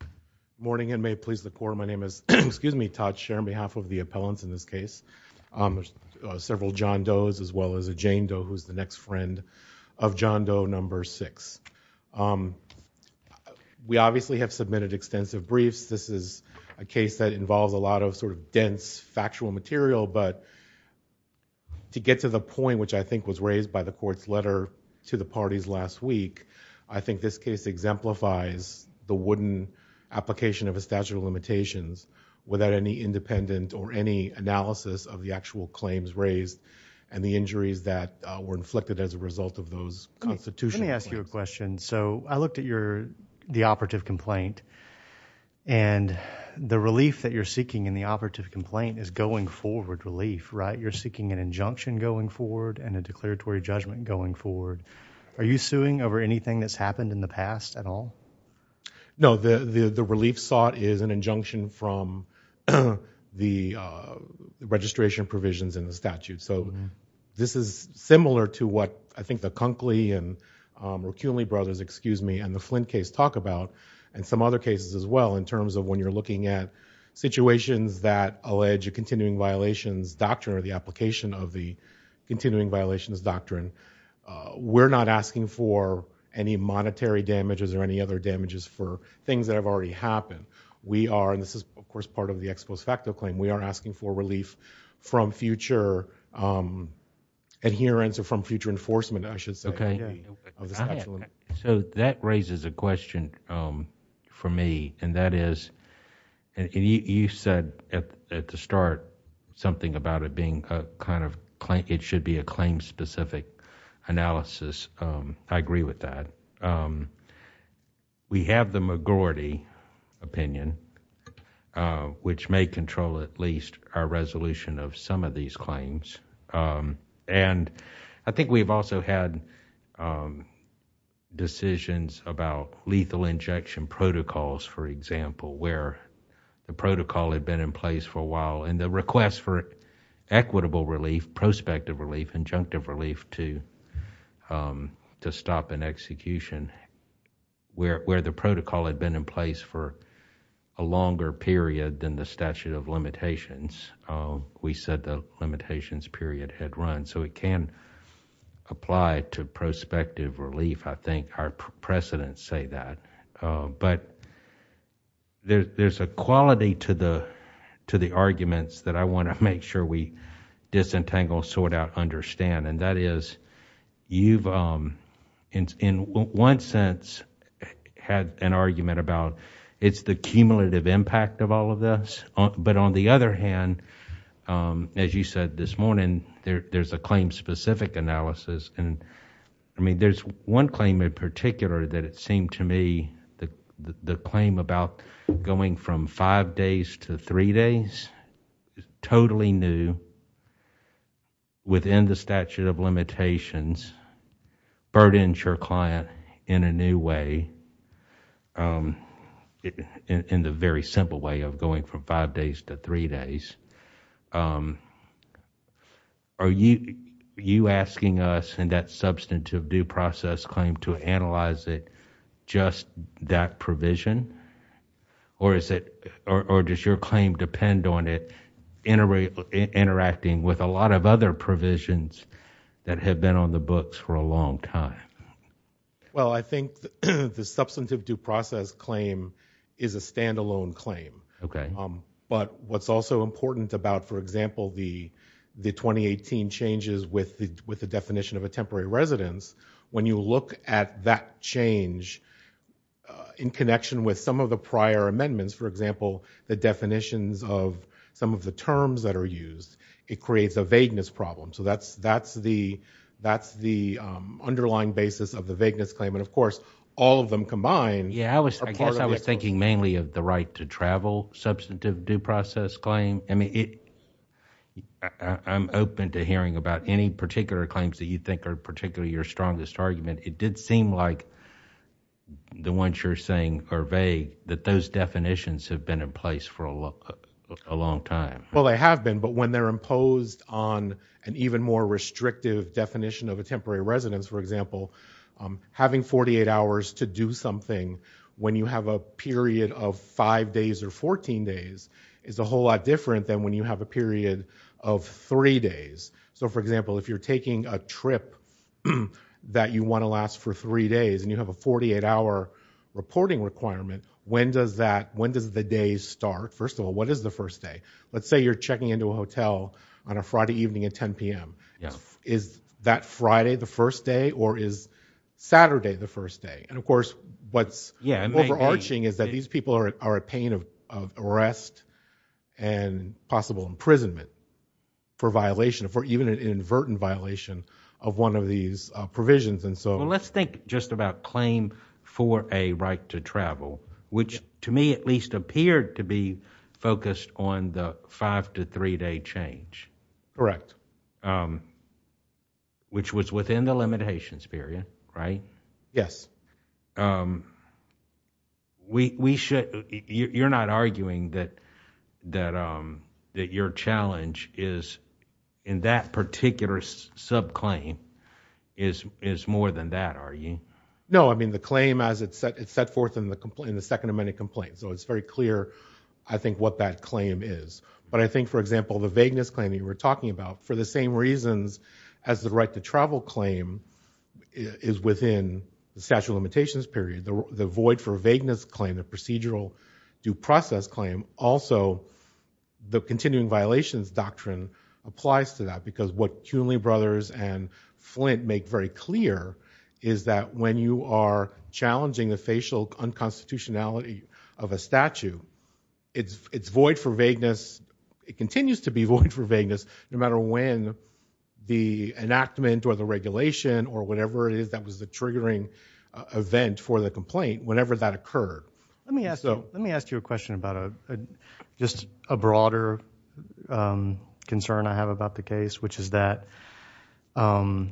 Good morning and may it please the court, my name is Todd Shearer on behalf of the appellants in this case. There's several John Doe's as well as a Jane Doe who's the next friend of John Doe number six. We obviously have submitted extensive briefs. This is a case that involves a lot of sort of dense factual material, but to get to the point which I think was raised by the court's letter to the parties last week, I think this case exemplifies the wooden application of a statute of limitations without any independent or any analysis of the actual claims raised and the injuries that were inflicted as a result of those constitutional claims. Judge Goldberg Let me ask you a question. So I looked at the operative complaint and the relief that you're seeking in the operative complaint is going forward relief, right? You're seeking an injunction going forward and a declaratory judgment going forward. Are you suing over anything that's happened in the past at all? Todd Shearer No, the relief sought is an injunction from the registration provisions in the statute. So this is similar to what I think the Conkley and the Flinn case talk about and some other cases as well in terms of when you're looking at situations that allege a continuing violations doctrine or the application of the continuing violations doctrine. We're not asking for any monetary damages or any other damages for things that have already happened. We are, and this is of course part of the ex post facto claim, we are asking for relief from future adherence or from future enforcement I should say. Judge Goldberg So that raises a question for me and that is, you said at the start something about it being a kind of, it should be a claim specific analysis. I agree with that. We have the majority opinion which may control at least our resolution of some of these claims and I think we've also had decisions about lethal injection protocols for example where the protocol had been in place for a while and the request for equitable relief, prospective relief, injunctive relief to stop an execution where the protocol had been in place for a longer period than the statute of limitations. We said the limitations period had run so it can apply to prospective relief. I think our precedents say that, but there's a quality to the arguments that I want to make sure we disentangle, sort out, understand and that is you've in one sense had an argument about it's the cumulative impact of all of this, but on the other hand, as you said this morning, there's a claim specific analysis and there's one claim in particular that it seemed to me the claim about going from five days to three days, totally new, within the statute of limitations, burdens your client in a new way, in the very simple way of going from Are you asking us in that substantive due process claim to analyze it just that provision? Or is it, or does your claim depend on it interacting with a lot of other provisions that have been on the books for a long time? Well I think the substantive due process claim is a stand alone claim, but what's also important about for example, the 2018 changes with the definition of a temporary residence, when you look at that change in connection with some of the prior amendments, for example, the definitions of some of the terms that are used, it creates a vagueness problem. So that's the underlying basis of the vagueness claim and of course, all of them combined Yeah, I guess I was thinking mainly of the right to travel substantive due process claim. I mean, I'm open to hearing about any particular claims that you think are particularly your strongest argument. It did seem like the ones you're saying are vague, that those definitions have been in place for a long time. Well they have been, but when they're imposed on an even more restrictive definition of a temporary residence, for example, having 48 hours to do something when you have a period of five days or 14 days is a whole lot different than when you have a period of three days. So for example, if you're taking a trip that you want to last for three days and you have a 48 hour reporting requirement, when does that, when does the day start? First of all, what is the first day? Let's say you're checking into a hotel on a Friday evening at 10 PM. Is that Friday the first day or is Saturday the first day? And of course, what's overarching is that these people are at pain of arrest and possible imprisonment for violation, for even an inadvertent violation of one of these provisions. And so let's think just about claim for a right to travel, which to me at least appeared to be focused on the five to three day change. Correct. Which was within the limitations period, right? Yes. We should, you're not arguing that your challenge is in that particular subclaim is more than that, are you? No, I mean the claim as it's set forth in the Second Amendment complaint, so it's very clear I think what that claim is. But I think for example, the vagueness claim that you were talking about, for the same reasons as the right to travel claim is within the statute of limitations period, the void for vagueness claim, the procedural due process claim, also the continuing violations doctrine applies to that. Because what Cunley brothers and Flint make very clear is that when you are challenging the facial unconstitutionality of a statute, it's void for vagueness. It continues to be void for vagueness no matter when the enactment or the regulation or whatever it is that was the triggering event for the complaint, whenever that occurred. Let me ask you a question about just a broader concern I have about the case, which is that you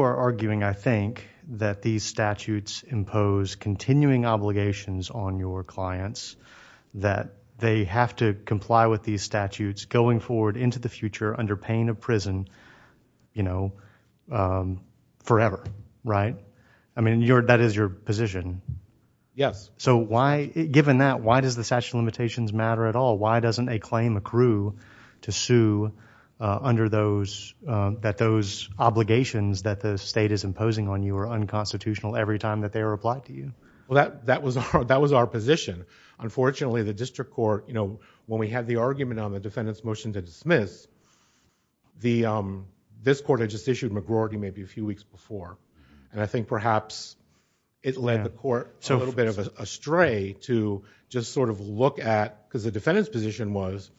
are arguing, I think, that these statutes impose continuing obligations on your clients that they have to comply with these statutes going forward into the future under pain of prison forever, right? I mean that is your position. Yes. So why, given that, why does the statute of limitations matter at all? Why doesn't a claim accrue to sue under those, that those obligations that the state is imposing on you are unconstitutional every time that they are applied to you? Well, that was our position. Unfortunately, the district court, you know, when we had the argument on the defendant's motion to dismiss, this court had just issued McGroarty maybe a few weeks before, and I think perhaps it led the court a little bit of a stray to just sort of look at, because the defendant's position was,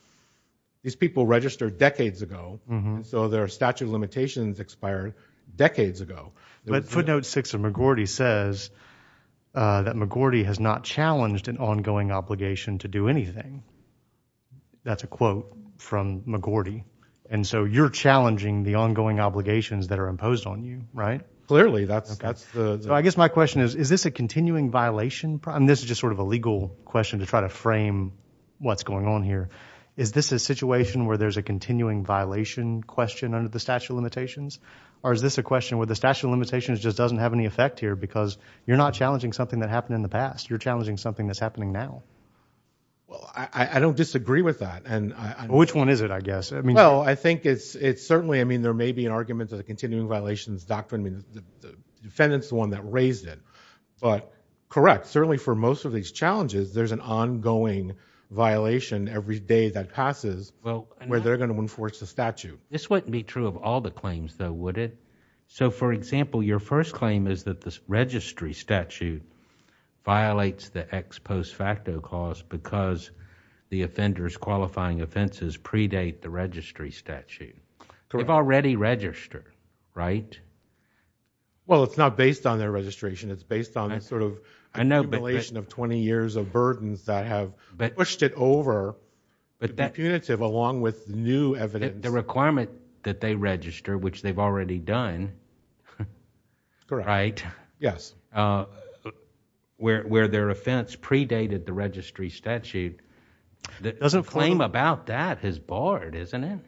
these people registered decades ago, so their statute of limitations expired decades ago. But footnote six of McGroarty says that McGroarty has not challenged an ongoing obligation to do anything. That's a quote from McGroarty, and so you're challenging the ongoing obligations that are imposed on you, right? Clearly, that's the... So I guess my question is, is this a continuing violation? This is just sort of a legal question to try to frame what's going on here. Is this a situation where there's a continuing violation question under the statute of limitations? Or is this a question where the statute of limitations just doesn't have any effect here because you're not challenging something that happened in the past, you're challenging something that's happening now? Well, I don't disagree with that, and I... Which one is it, I guess? I mean... Well, I think it's certainly, I mean, there may be an argument of the continuing violations doctrine. I mean, the defendant's the one that raised it. But correct, certainly for most of these challenges, there's an ongoing violation every day that passes where they're going to enforce the statute. This wouldn't be true of all the claims, though, would it? So for example, your first claim is that the registry statute violates the ex post facto cause because the offender's qualifying offenses predate the registry statute. Correct. But they've already registered, right? Well, it's not based on their registration. It's based on this sort of accumulation of 20 years of burdens that have pushed it over to be punitive along with new evidence. The requirement that they register, which they've already done, right? Correct. Yes. Where their offense predated the registry statute, the claim about that is barred, isn't it? Correct.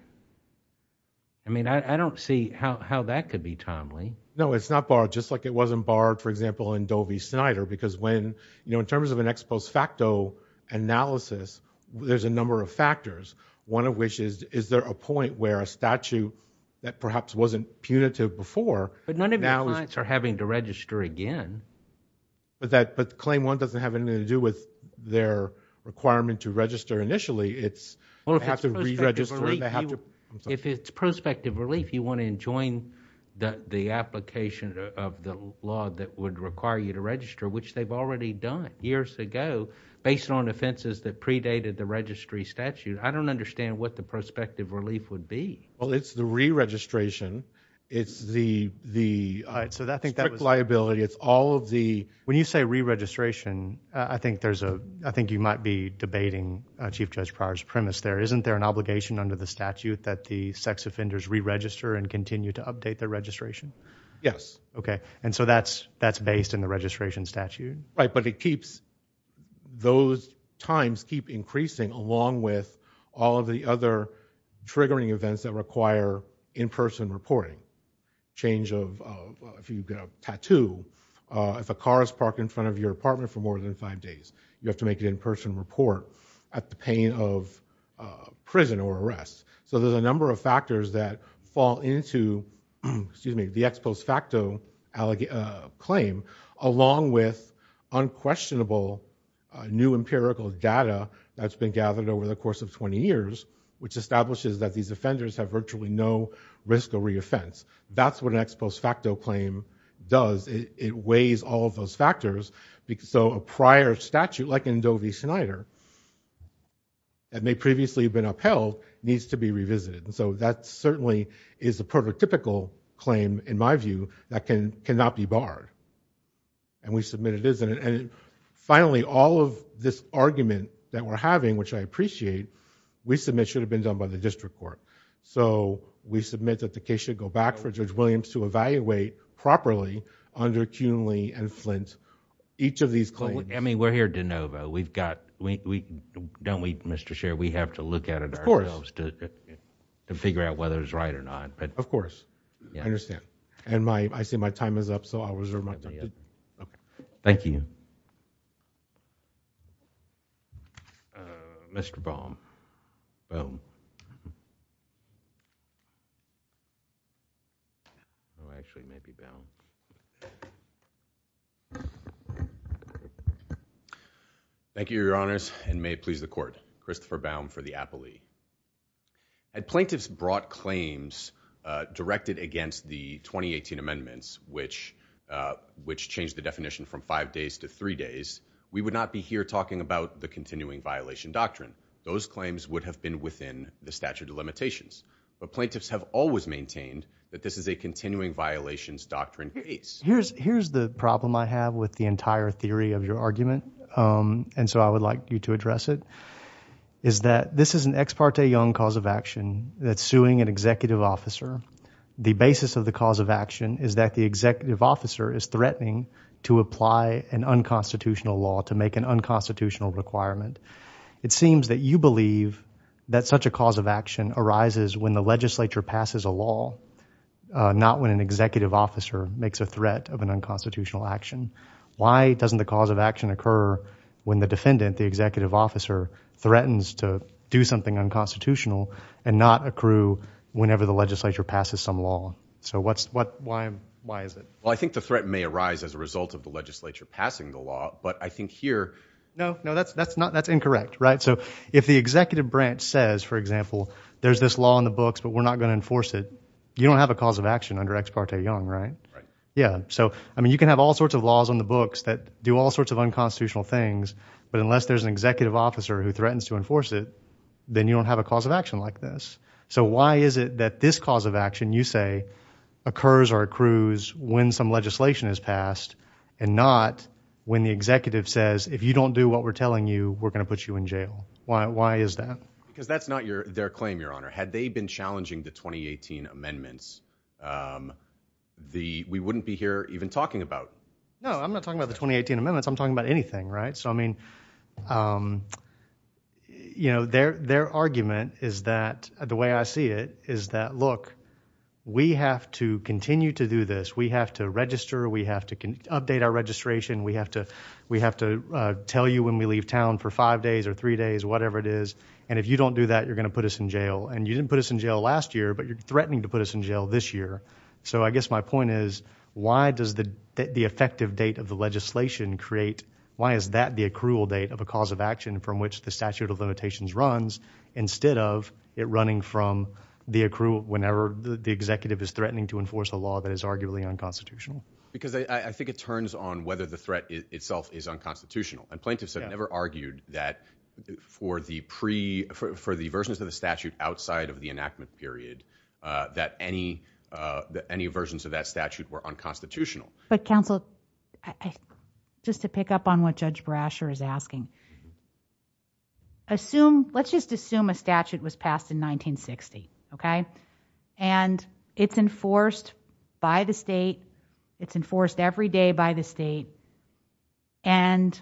I mean, I don't see how that could be timely. No, it's not barred, just like it wasn't barred, for example, in Doe v. Snyder. Because when, you know, in terms of an ex post facto analysis, there's a number of factors, one of which is, is there a point where a statute that perhaps wasn't punitive before But none of your clients are having to register again. But claim one doesn't have anything to do with their requirement to register initially. Well, if it's prospective relief, you want to enjoin the application of the law that would require you to register, which they've already done years ago, based on offenses that predated the registry statute. I don't understand what the prospective relief would be. Well, it's the re-registration, it's the strict liability, it's all of the... Isn't there an obligation under the statute that the sex offenders re-register and continue to update their registration? Yes. Okay. And so that's based in the registration statute? Right, but it keeps, those times keep increasing along with all of the other triggering events that require in-person reporting. Change of, if you get a tattoo, if a car is parked in front of your apartment for more than five days, you have to make an in-person report at the pain of prison or arrest. So there's a number of factors that fall into the ex post facto claim, along with unquestionable new empirical data that's been gathered over the course of 20 years, which establishes that these offenders have virtually no risk of re-offense. That's what an ex post facto claim does. It weighs all of those factors. So a prior statute, like in Doe v. Snyder, that may previously have been upheld, needs to be revisited. So that certainly is a prototypical claim, in my view, that cannot be barred. And we submit it is, and finally, all of this argument that we're having, which I appreciate, we submit should have been done by the district court. So we submit that the case should go back for Judge Williams to evaluate properly under Cunley and Flint, each of these claims. I mean, we're here de novo. We've got, don't we, Mr. Chair? We have to look at it ourselves to figure out whether it's right or not. Of course. I understand. And I see my time is up, so I'll reserve my time. Thank you. Mr. Baum. Oh, actually, it may be Baum. Thank you, Your Honors. And may it please the court. Christopher Baum for the Appley. Had plaintiffs brought claims directed against the 2018 amendments, which changed the definition from five days to three days, we would not be here talking about the continuing violation doctrine. Those claims would have been within the statute of limitations, but plaintiffs have always maintained that this is a continuing violations doctrine case. Here's the problem I have with the entire theory of your argument, and so I would like you to address it, is that this is an ex parte young cause of action that's suing an executive officer. The basis of the cause of action is that the executive officer is threatening to apply an unconstitutional law to make an unconstitutional requirement. It seems that you believe that such a cause of action arises when the legislature passes a law, not when an executive officer makes a threat of an unconstitutional action. Why doesn't the cause of action occur when the defendant, the executive officer, threatens to do something unconstitutional and not accrue whenever the legislature passes some law? So why is it? Well, I think the threat may arise as a result of the legislature passing the law. But I think here... No, no, that's incorrect, right? So if the executive branch says, for example, there's this law in the books, but we're not going to enforce it, you don't have a cause of action under ex parte young, right? Yeah. So, I mean, you can have all sorts of laws on the books that do all sorts of unconstitutional things, but unless there's an executive officer who threatens to enforce it, then you don't have a cause of action like this. So why is it that this cause of action, you say, occurs or accrues when some legislation is passed and not when the executive says, if you don't do what we're telling you, we're going to put you in jail? Why is that? Because that's not their claim, your honor. Had they been challenging the 2018 amendments, we wouldn't be here even talking about... No, I'm not talking about the 2018 amendments. I'm talking about anything, right? So I mean, their argument is that, the way I see it, is that, look, we have to continue to do this. We have to register, we have to update our registration, we have to tell you when we leave town for five days or three days, whatever it is, and if you don't do that, you're going to put us in jail. And you didn't put us in jail last year, but you're threatening to put us in jail this year. So I guess my point is, why does the effective date of the legislation create, why is that the accrual date of a cause of action from which the statute of limitations runs, instead of it running from the accrual, whenever the executive is threatening to enforce a law that is arguably unconstitutional? Because I think it turns on whether the threat itself is unconstitutional. And plaintiffs have never argued that, for the versions of the statute outside of the enactment period, that any versions of that statute were unconstitutional. But counsel, just to pick up on what Judge Brasher is asking, let's just assume a statute was passed in 1960, okay? And it's enforced by the state, it's enforced every day by the state, and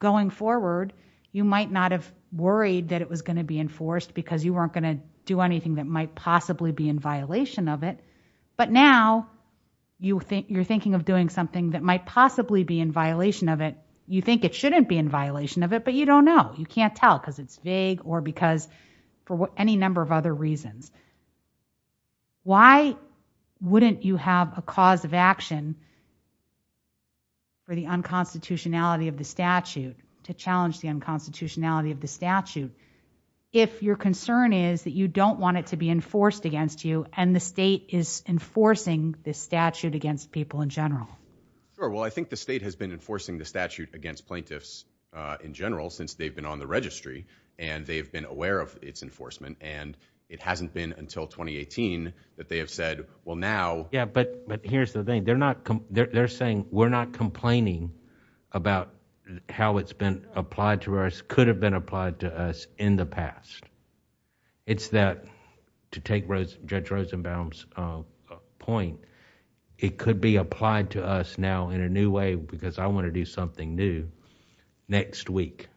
going forward, you might not have worried that it was going to be enforced because you weren't going to do anything that might possibly be in violation of it. But now, you're thinking of doing something that might possibly be in violation of it. You think it shouldn't be in violation of it, but you don't know. You can't tell because it's vague or because for any number of other reasons. Why wouldn't you have a cause of action for the unconstitutionality of the statute, to challenge the unconstitutionality of the statute, if your concern is that you don't want it to be enforced against you, and the state is enforcing this statute against people in general? Sure. Well, I think the state has been enforcing the statute against plaintiffs in general since they've been on the registry, and they've been aware of its enforcement, and it hasn't been until 2018 that they have said, well, now... Yeah, but here's the thing, they're saying, we're not complaining about how it's been applied to us, could have been applied to us in the past. It's that, to take Judge Rosenbaum's point, it could be applied to us now in a new way because I want to do something new next week,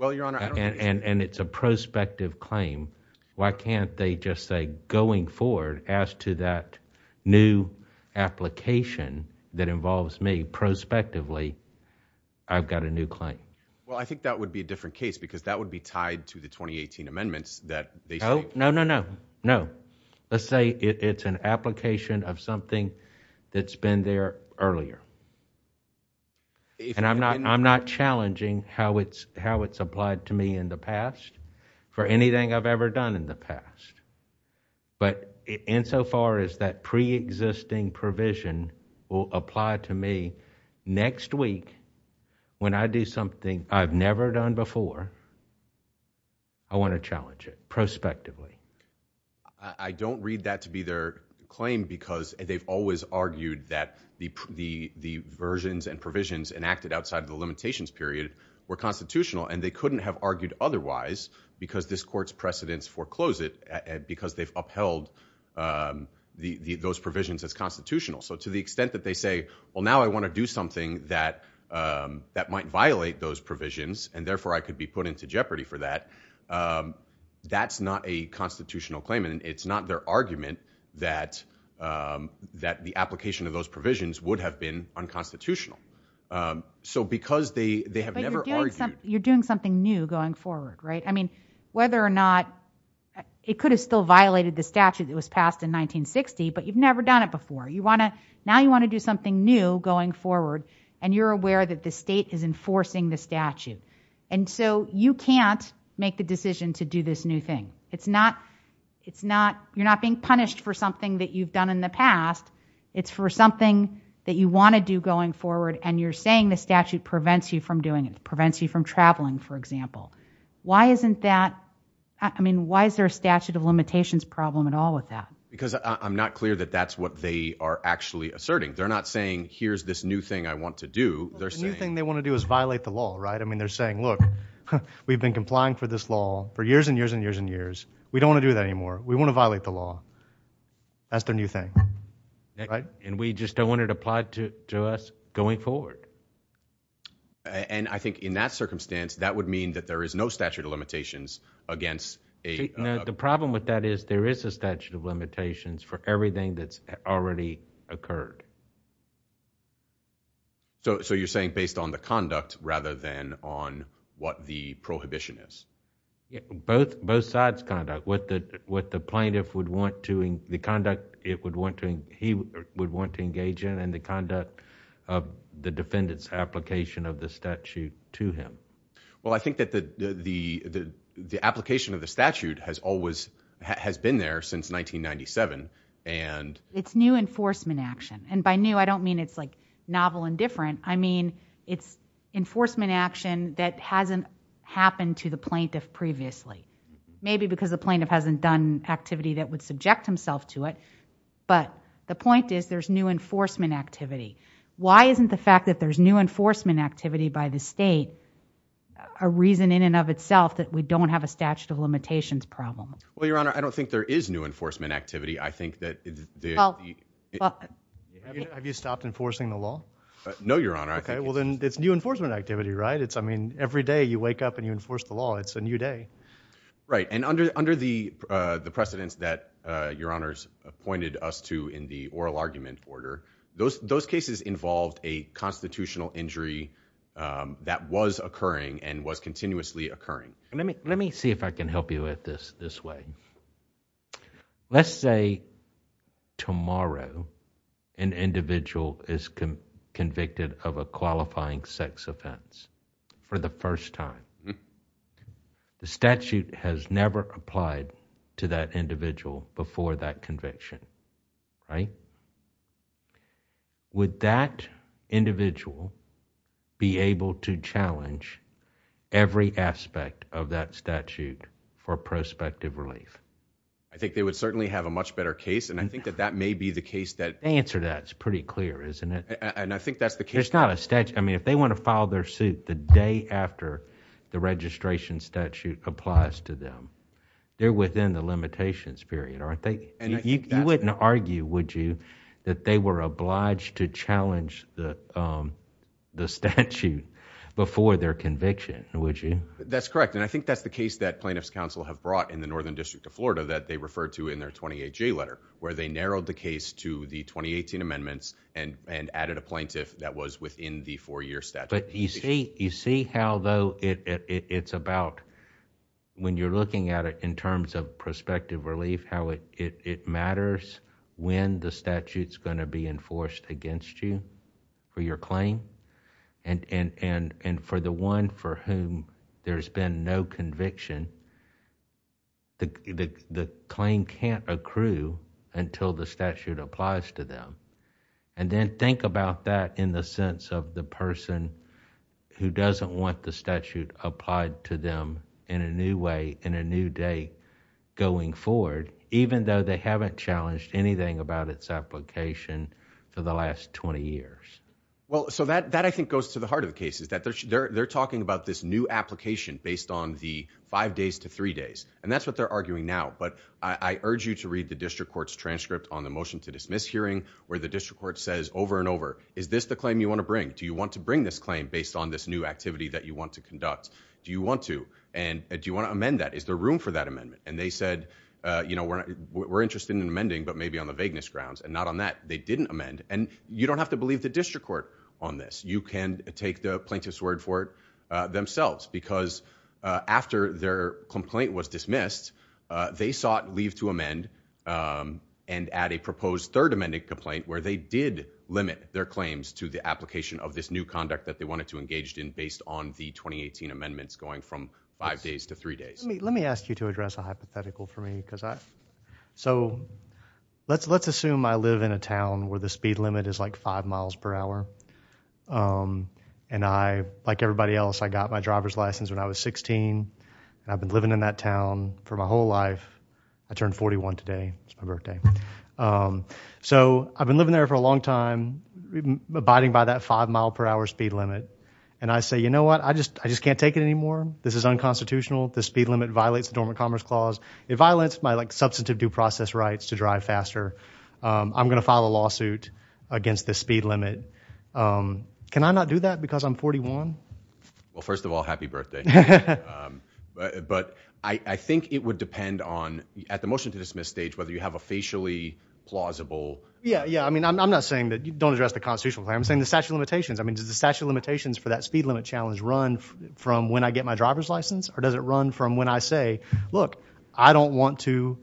and it's a prospective claim. Why can't they just say, going forward, as to that new application that involves me prospectively, I've got a new claim? Well, I think that would be a different case because that would be tied to the 2018 amendments that they say... And I'm not challenging how it's applied to me in the past for anything I've ever done in the past, but insofar as that preexisting provision will apply to me next week when I do something I've never done before, I want to challenge it prospectively. I don't read that to be their claim because they've always argued that the versions and provisions enacted outside of the limitations period were constitutional, and they couldn't have argued otherwise because this court's precedents foreclose it because they've upheld those provisions as constitutional. So to the extent that they say, well, now I want to do something that might violate those provisions, and therefore I could be put into jeopardy for that, that's not a constitutional claim, and it's not their argument that the application of those provisions would have been unconstitutional. So because they have never argued... You're doing something new going forward, right? I mean, whether or not... it could have still violated the statute that was passed in 1960, but you've never done it before. Now you want to do something new going forward, and you're aware that the state is enforcing the statute. And so you can't make the decision to do this new thing. It's not... you're not being punished for something that you've done in the past. It's for something that you want to do going forward, and you're saying the statute prevents you from doing it, prevents you from traveling, for example. Why isn't that... I mean, why is there a statute of limitations problem at all with that? Because I'm not clear that that's what they are actually asserting. They're not saying, here's this new thing I want to do. The new thing they want to do is violate the law, right? I mean, they're saying, look, we've been complying for this law for years and years and years and years. We don't want to do that anymore. We want to violate the law. That's their new thing, right? And we just don't want it applied to us going forward. And I think in that circumstance, that would mean that there is no statute of limitations against a... The problem with that is there is a statute of limitations for everything that's already occurred. So, you're saying based on the conduct rather than on what the prohibition is? Both sides' conduct. What the plaintiff would want to... the conduct it would want to... he would want to engage in and the conduct of the defendant's application of the statute to him. Well, I think that the application of the statute has always... has been there since 1997, and... It's new enforcement action. And by new, I don't mean it's like novel and different. I mean, it's enforcement action that hasn't happened to the plaintiff previously, maybe because the plaintiff hasn't done activity that would subject himself to it. But the point is there's new enforcement activity. Why isn't the fact that there's new enforcement activity by the state a reason in and of itself that we don't have a statute of limitations problem? Well, Your Honor, I don't think there is new enforcement activity. I think that... Have you stopped enforcing the law? No, Your Honor. Okay. Well, then it's new enforcement activity, right? It's, I mean, every day you wake up and you enforce the law. It's a new day. Right. And under the precedents that Your Honor's pointed us to in the oral argument order, those cases involved a constitutional injury that was occurring and was continuously occurring. Let me see if I can help you with this this way. Let's say tomorrow an individual is convicted of a qualifying sex offense for the first time. The statute has never applied to that individual before that conviction, right? Would that individual be able to challenge every aspect of that statute for prospective relief? I think they would certainly have a much better case and I think that that may be the case that... The answer to that is pretty clear, isn't it? And I think that's the case... It's not a statute. I mean, if they want to file their suit the day after the registration statute applies to them, they're within the limitations period, aren't they? You wouldn't argue, would you, that they were obliged to challenge the statute before their conviction, would you? That's correct. And I think that's the case that Plaintiff's Counsel have brought in the Northern District of Florida that they referred to in their 28-J letter where they narrowed the case to the 2018 amendments and added a plaintiff that was within the four-year statute. You see how, though, it's about... when you're looking at it in terms of prospective relief, how it matters when the statute's going to be enforced against you for your no conviction, the claim can't accrue until the statute applies to them. And then think about that in the sense of the person who doesn't want the statute applied to them in a new way, in a new day going forward, even though they haven't challenged anything about its application for the last 20 years. Well, so that I think goes to the heart of the case, is that they're talking about this new application based on the five days to three days. And that's what they're arguing now. But I urge you to read the district court's transcript on the motion to dismiss hearing where the district court says over and over, is this the claim you want to bring? Do you want to bring this claim based on this new activity that you want to conduct? Do you want to? And do you want to amend that? Is there room for that amendment? And they said, you know, we're interested in amending, but maybe on the vagueness grounds. And not on that. They didn't amend. And you don't have to believe the district court on this. You can take the plaintiff's word for it themselves. Because after their complaint was dismissed, they sought leave to amend and add a proposed third amended complaint where they did limit their claims to the application of this new conduct that they wanted to engage in based on the 2018 amendments going from five days to three days. Let me ask you to address a hypothetical for me. So, let's assume I live in a town where the speed limit is like five miles per hour. And I, like everybody else, I got my driver's license when I was 16 and I've been living in that town for my whole life. I turned 41 today, it's my birthday. So I've been living there for a long time, abiding by that five mile per hour speed limit. And I say, you know what, I just, I just can't take it anymore. This is unconstitutional. The speed limit violates the dormant commerce clause. It violates my like substantive due process rights to drive faster. I'm going to file a lawsuit against the speed limit. Can I not do that because I'm 41? Well, first of all, happy birthday. But I think it would depend on at the motion to dismiss stage, whether you have a facially plausible. Yeah, yeah. I mean, I'm not saying that you don't address the constitutional claim. I'm saying the statute of limitations. I mean, does the statute of limitations for that speed limit challenge run from when I get my driver's license or does it run from when I say, look, I don't want to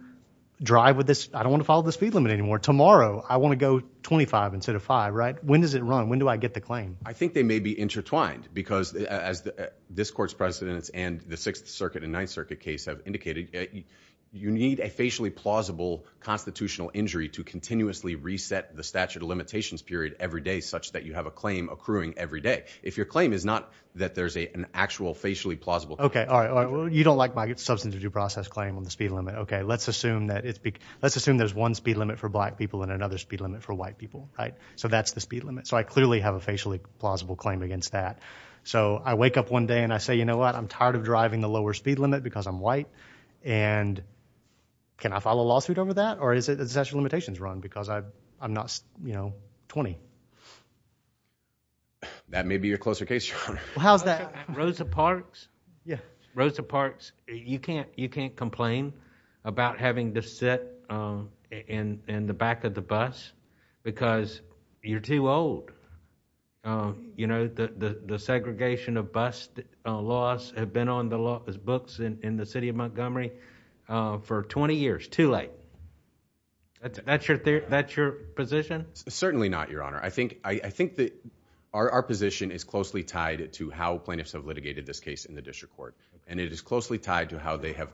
drive with this. I don't want to follow the speed limit anymore. Tomorrow, I want to go 25 instead of five, right? When does it run? When do I get the claim? I think they may be intertwined because as this court's precedents and the Sixth Circuit and Ninth Circuit case have indicated, you need a facially plausible constitutional injury to continuously reset the statute of limitations period every day such that you have a claim accruing every day. If your claim is not that there's an actual facially plausible. Okay. All right. Well, you don't like my substance of due process claim on the speed limit. Okay. Let's assume that it's big. Let's assume there's one speed limit for black people and another speed limit for white people, right? So that's the speed limit. So I clearly have a facially plausible claim against that. So I wake up one day and I say, you know what, I'm tired of driving the lower speed limit because I'm white and can I file a lawsuit over that? Or is it the statute of limitations run because I'm not, you know, 20. That may be your closer case, Your Honor. How's that? Rosa Parks. Yeah. Rosa Parks. You can't, you can't complain about having to sit in the back of the bus because you're too old. You know, the segregation of bus laws have been on the law books in the city of Montgomery for 20 years, too late. That's your theory? That's your position? Certainly not. Your Honor. I think, I think that our position is closely tied to how plaintiffs have litigated this case in the district court. And it is closely tied to how they have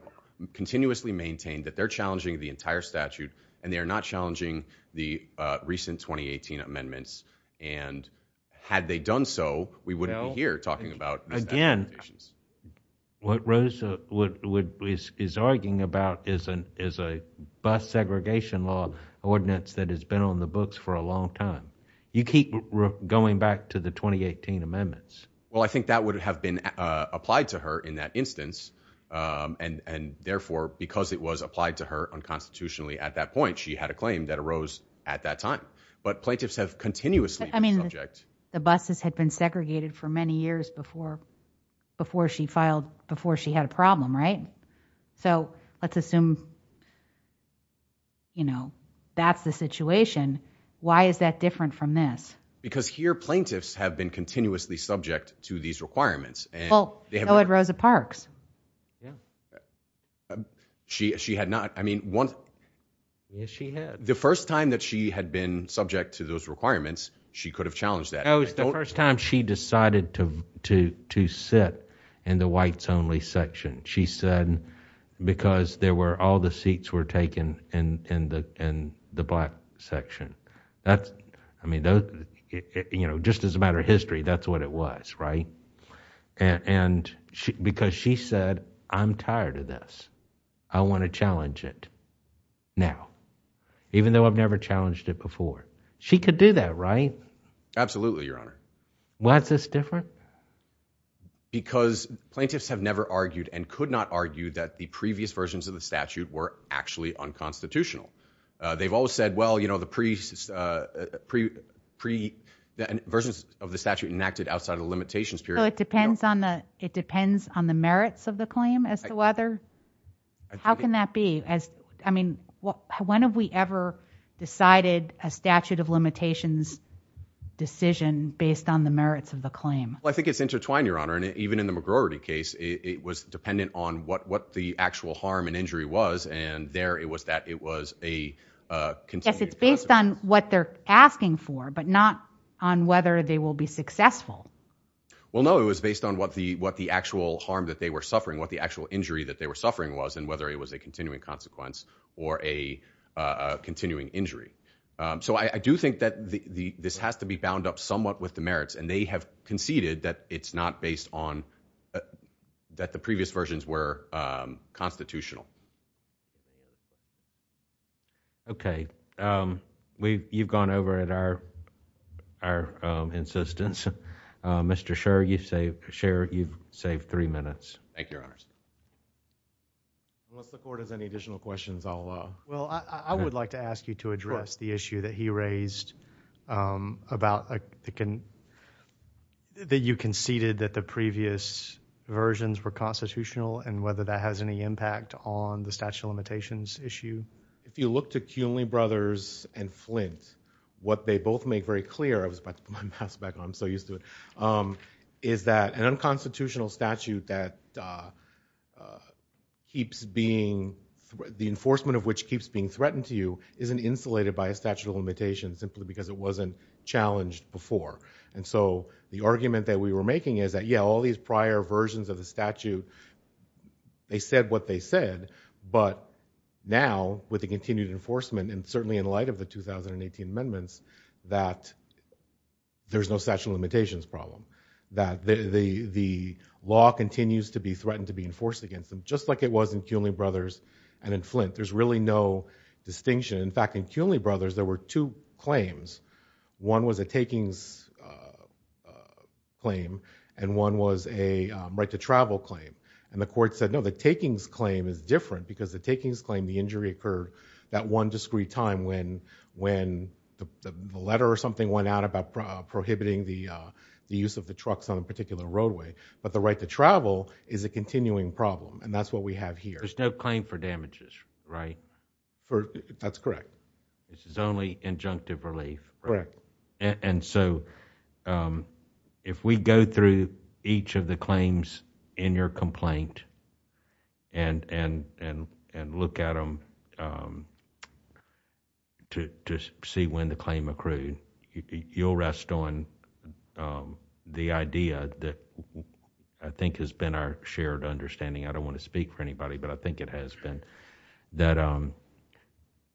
continuously maintained that they're challenging the entire statute and they are not challenging the recent 2018 amendments. And had they done so, we wouldn't be here talking about again. What Rosa is arguing about is a bus segregation law ordinance that has been on the books for a long time. You keep going back to the 2018 amendments. Well, I think that would have been applied to her in that instance. And therefore, because it was applied to her unconstitutionally at that point, she had a claim that arose at that time. But plaintiffs have continuously been subject. The buses had been segregated for many years before, before she filed, before she had a problem, right? So let's assume, you know, that's the situation. Why is that different from this? Because here, plaintiffs have been continuously subject to these requirements. Well, so had Rosa Parks. She had not. I mean, one. Yes, she had. The first time that she had been subject to those requirements, she could have challenged that. No, it was the first time she decided to sit in the whites only section. She said because there were all the seats were taken in the in the black section. That's I mean, you know, just as a matter of history, that's what it was, right? And because she said, I'm tired of this. I want to challenge it now, even though I've never challenged it before. She could do that, right? Absolutely, Your Honor. Why is this different? Because plaintiffs have never argued and could not argue that the previous versions of the statute were actually unconstitutional. They've always said, well, you know, the priest's pre pre versions of the statute enacted outside of limitations. So it depends on the it depends on the merits of the claim as to whether how can that be as I mean, when have we ever decided a statute of limitations decision based on the merits of the claim? Well, I think it's intertwined, Your Honor. And even in the McGroarty case, it was dependent on what what the actual harm and injury was. And there it was that it was a yes, it's based on what they're asking for, but not on whether they will be successful. Well, no, it was based on what the what the actual harm that they were suffering, what the actual injury that they were suffering was, and whether it was a continuing consequence or a continuing injury. So I do think that the this has to be bound up somewhat with the merits, and they have conceded that it's not based on that the previous versions were constitutional. Okay, we've you've gone over at our our insistence, Mr. Sherry, you say share, you've saved three minutes. Thank you. Unless the court has any additional questions, I'll Well, I would like to ask you to address the issue that he raised about the can that you conceded that the previous versions were constitutional and whether that has any impact on the statute of limitations issue. If you look to Kuhnley brothers and Flint, what they both make very clear, I was about to put my mask back on, I'm so used to it, is that an unconstitutional statute that keeps being the enforcement of which keeps being threatened to you isn't insulated by a statute of limitations simply because it wasn't challenged before. And so the argument that we were making is that, yeah, all these prior versions of the statute, they said what they said, but now with the continued enforcement, and certainly in light of the 2018 amendments, that there's no statute of limitations problem, that the law continues to be threatened to be enforced against them, just like it was in Kuhnley brothers and in Flint. There's really no distinction. In fact, in Kuhnley brothers, there were two claims. One was a takings claim, and one was a right to travel claim. And the court said, no, the takings claim is different because the takings claim, the injury occurred that one discrete time when the letter or something went out about prohibiting the use of the trucks on a particular roadway. But the right to travel is a continuing problem. And that's what we have here. There's no claim for damages, right? That's correct. This is only injunctive relief. And so if we go through each of the claims in your complaint and look at them to see when the claim accrued, you'll rest on the idea that I think has been our shared understanding. I don't want to speak for anybody, but I think it has been,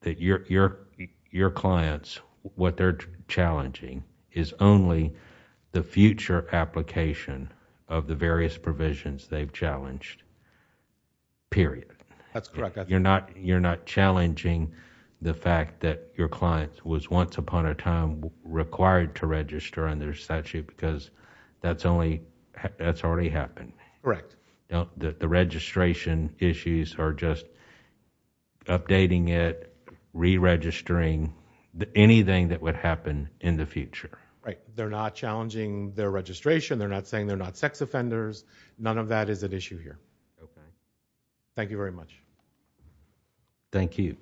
that your clients, what they're challenging is only the future application of the various provisions they've challenged, period. That's correct. They're not challenging the fact that your client was once upon a time required to register under statute because that's only, that's already happened. Correct. The registration issues are just updating it, re-registering anything that would happen in the future. Right. They're not challenging their registration. They're not saying they're not sex offenders. None of that is at issue here. Okay. Thank you very much. Thank you.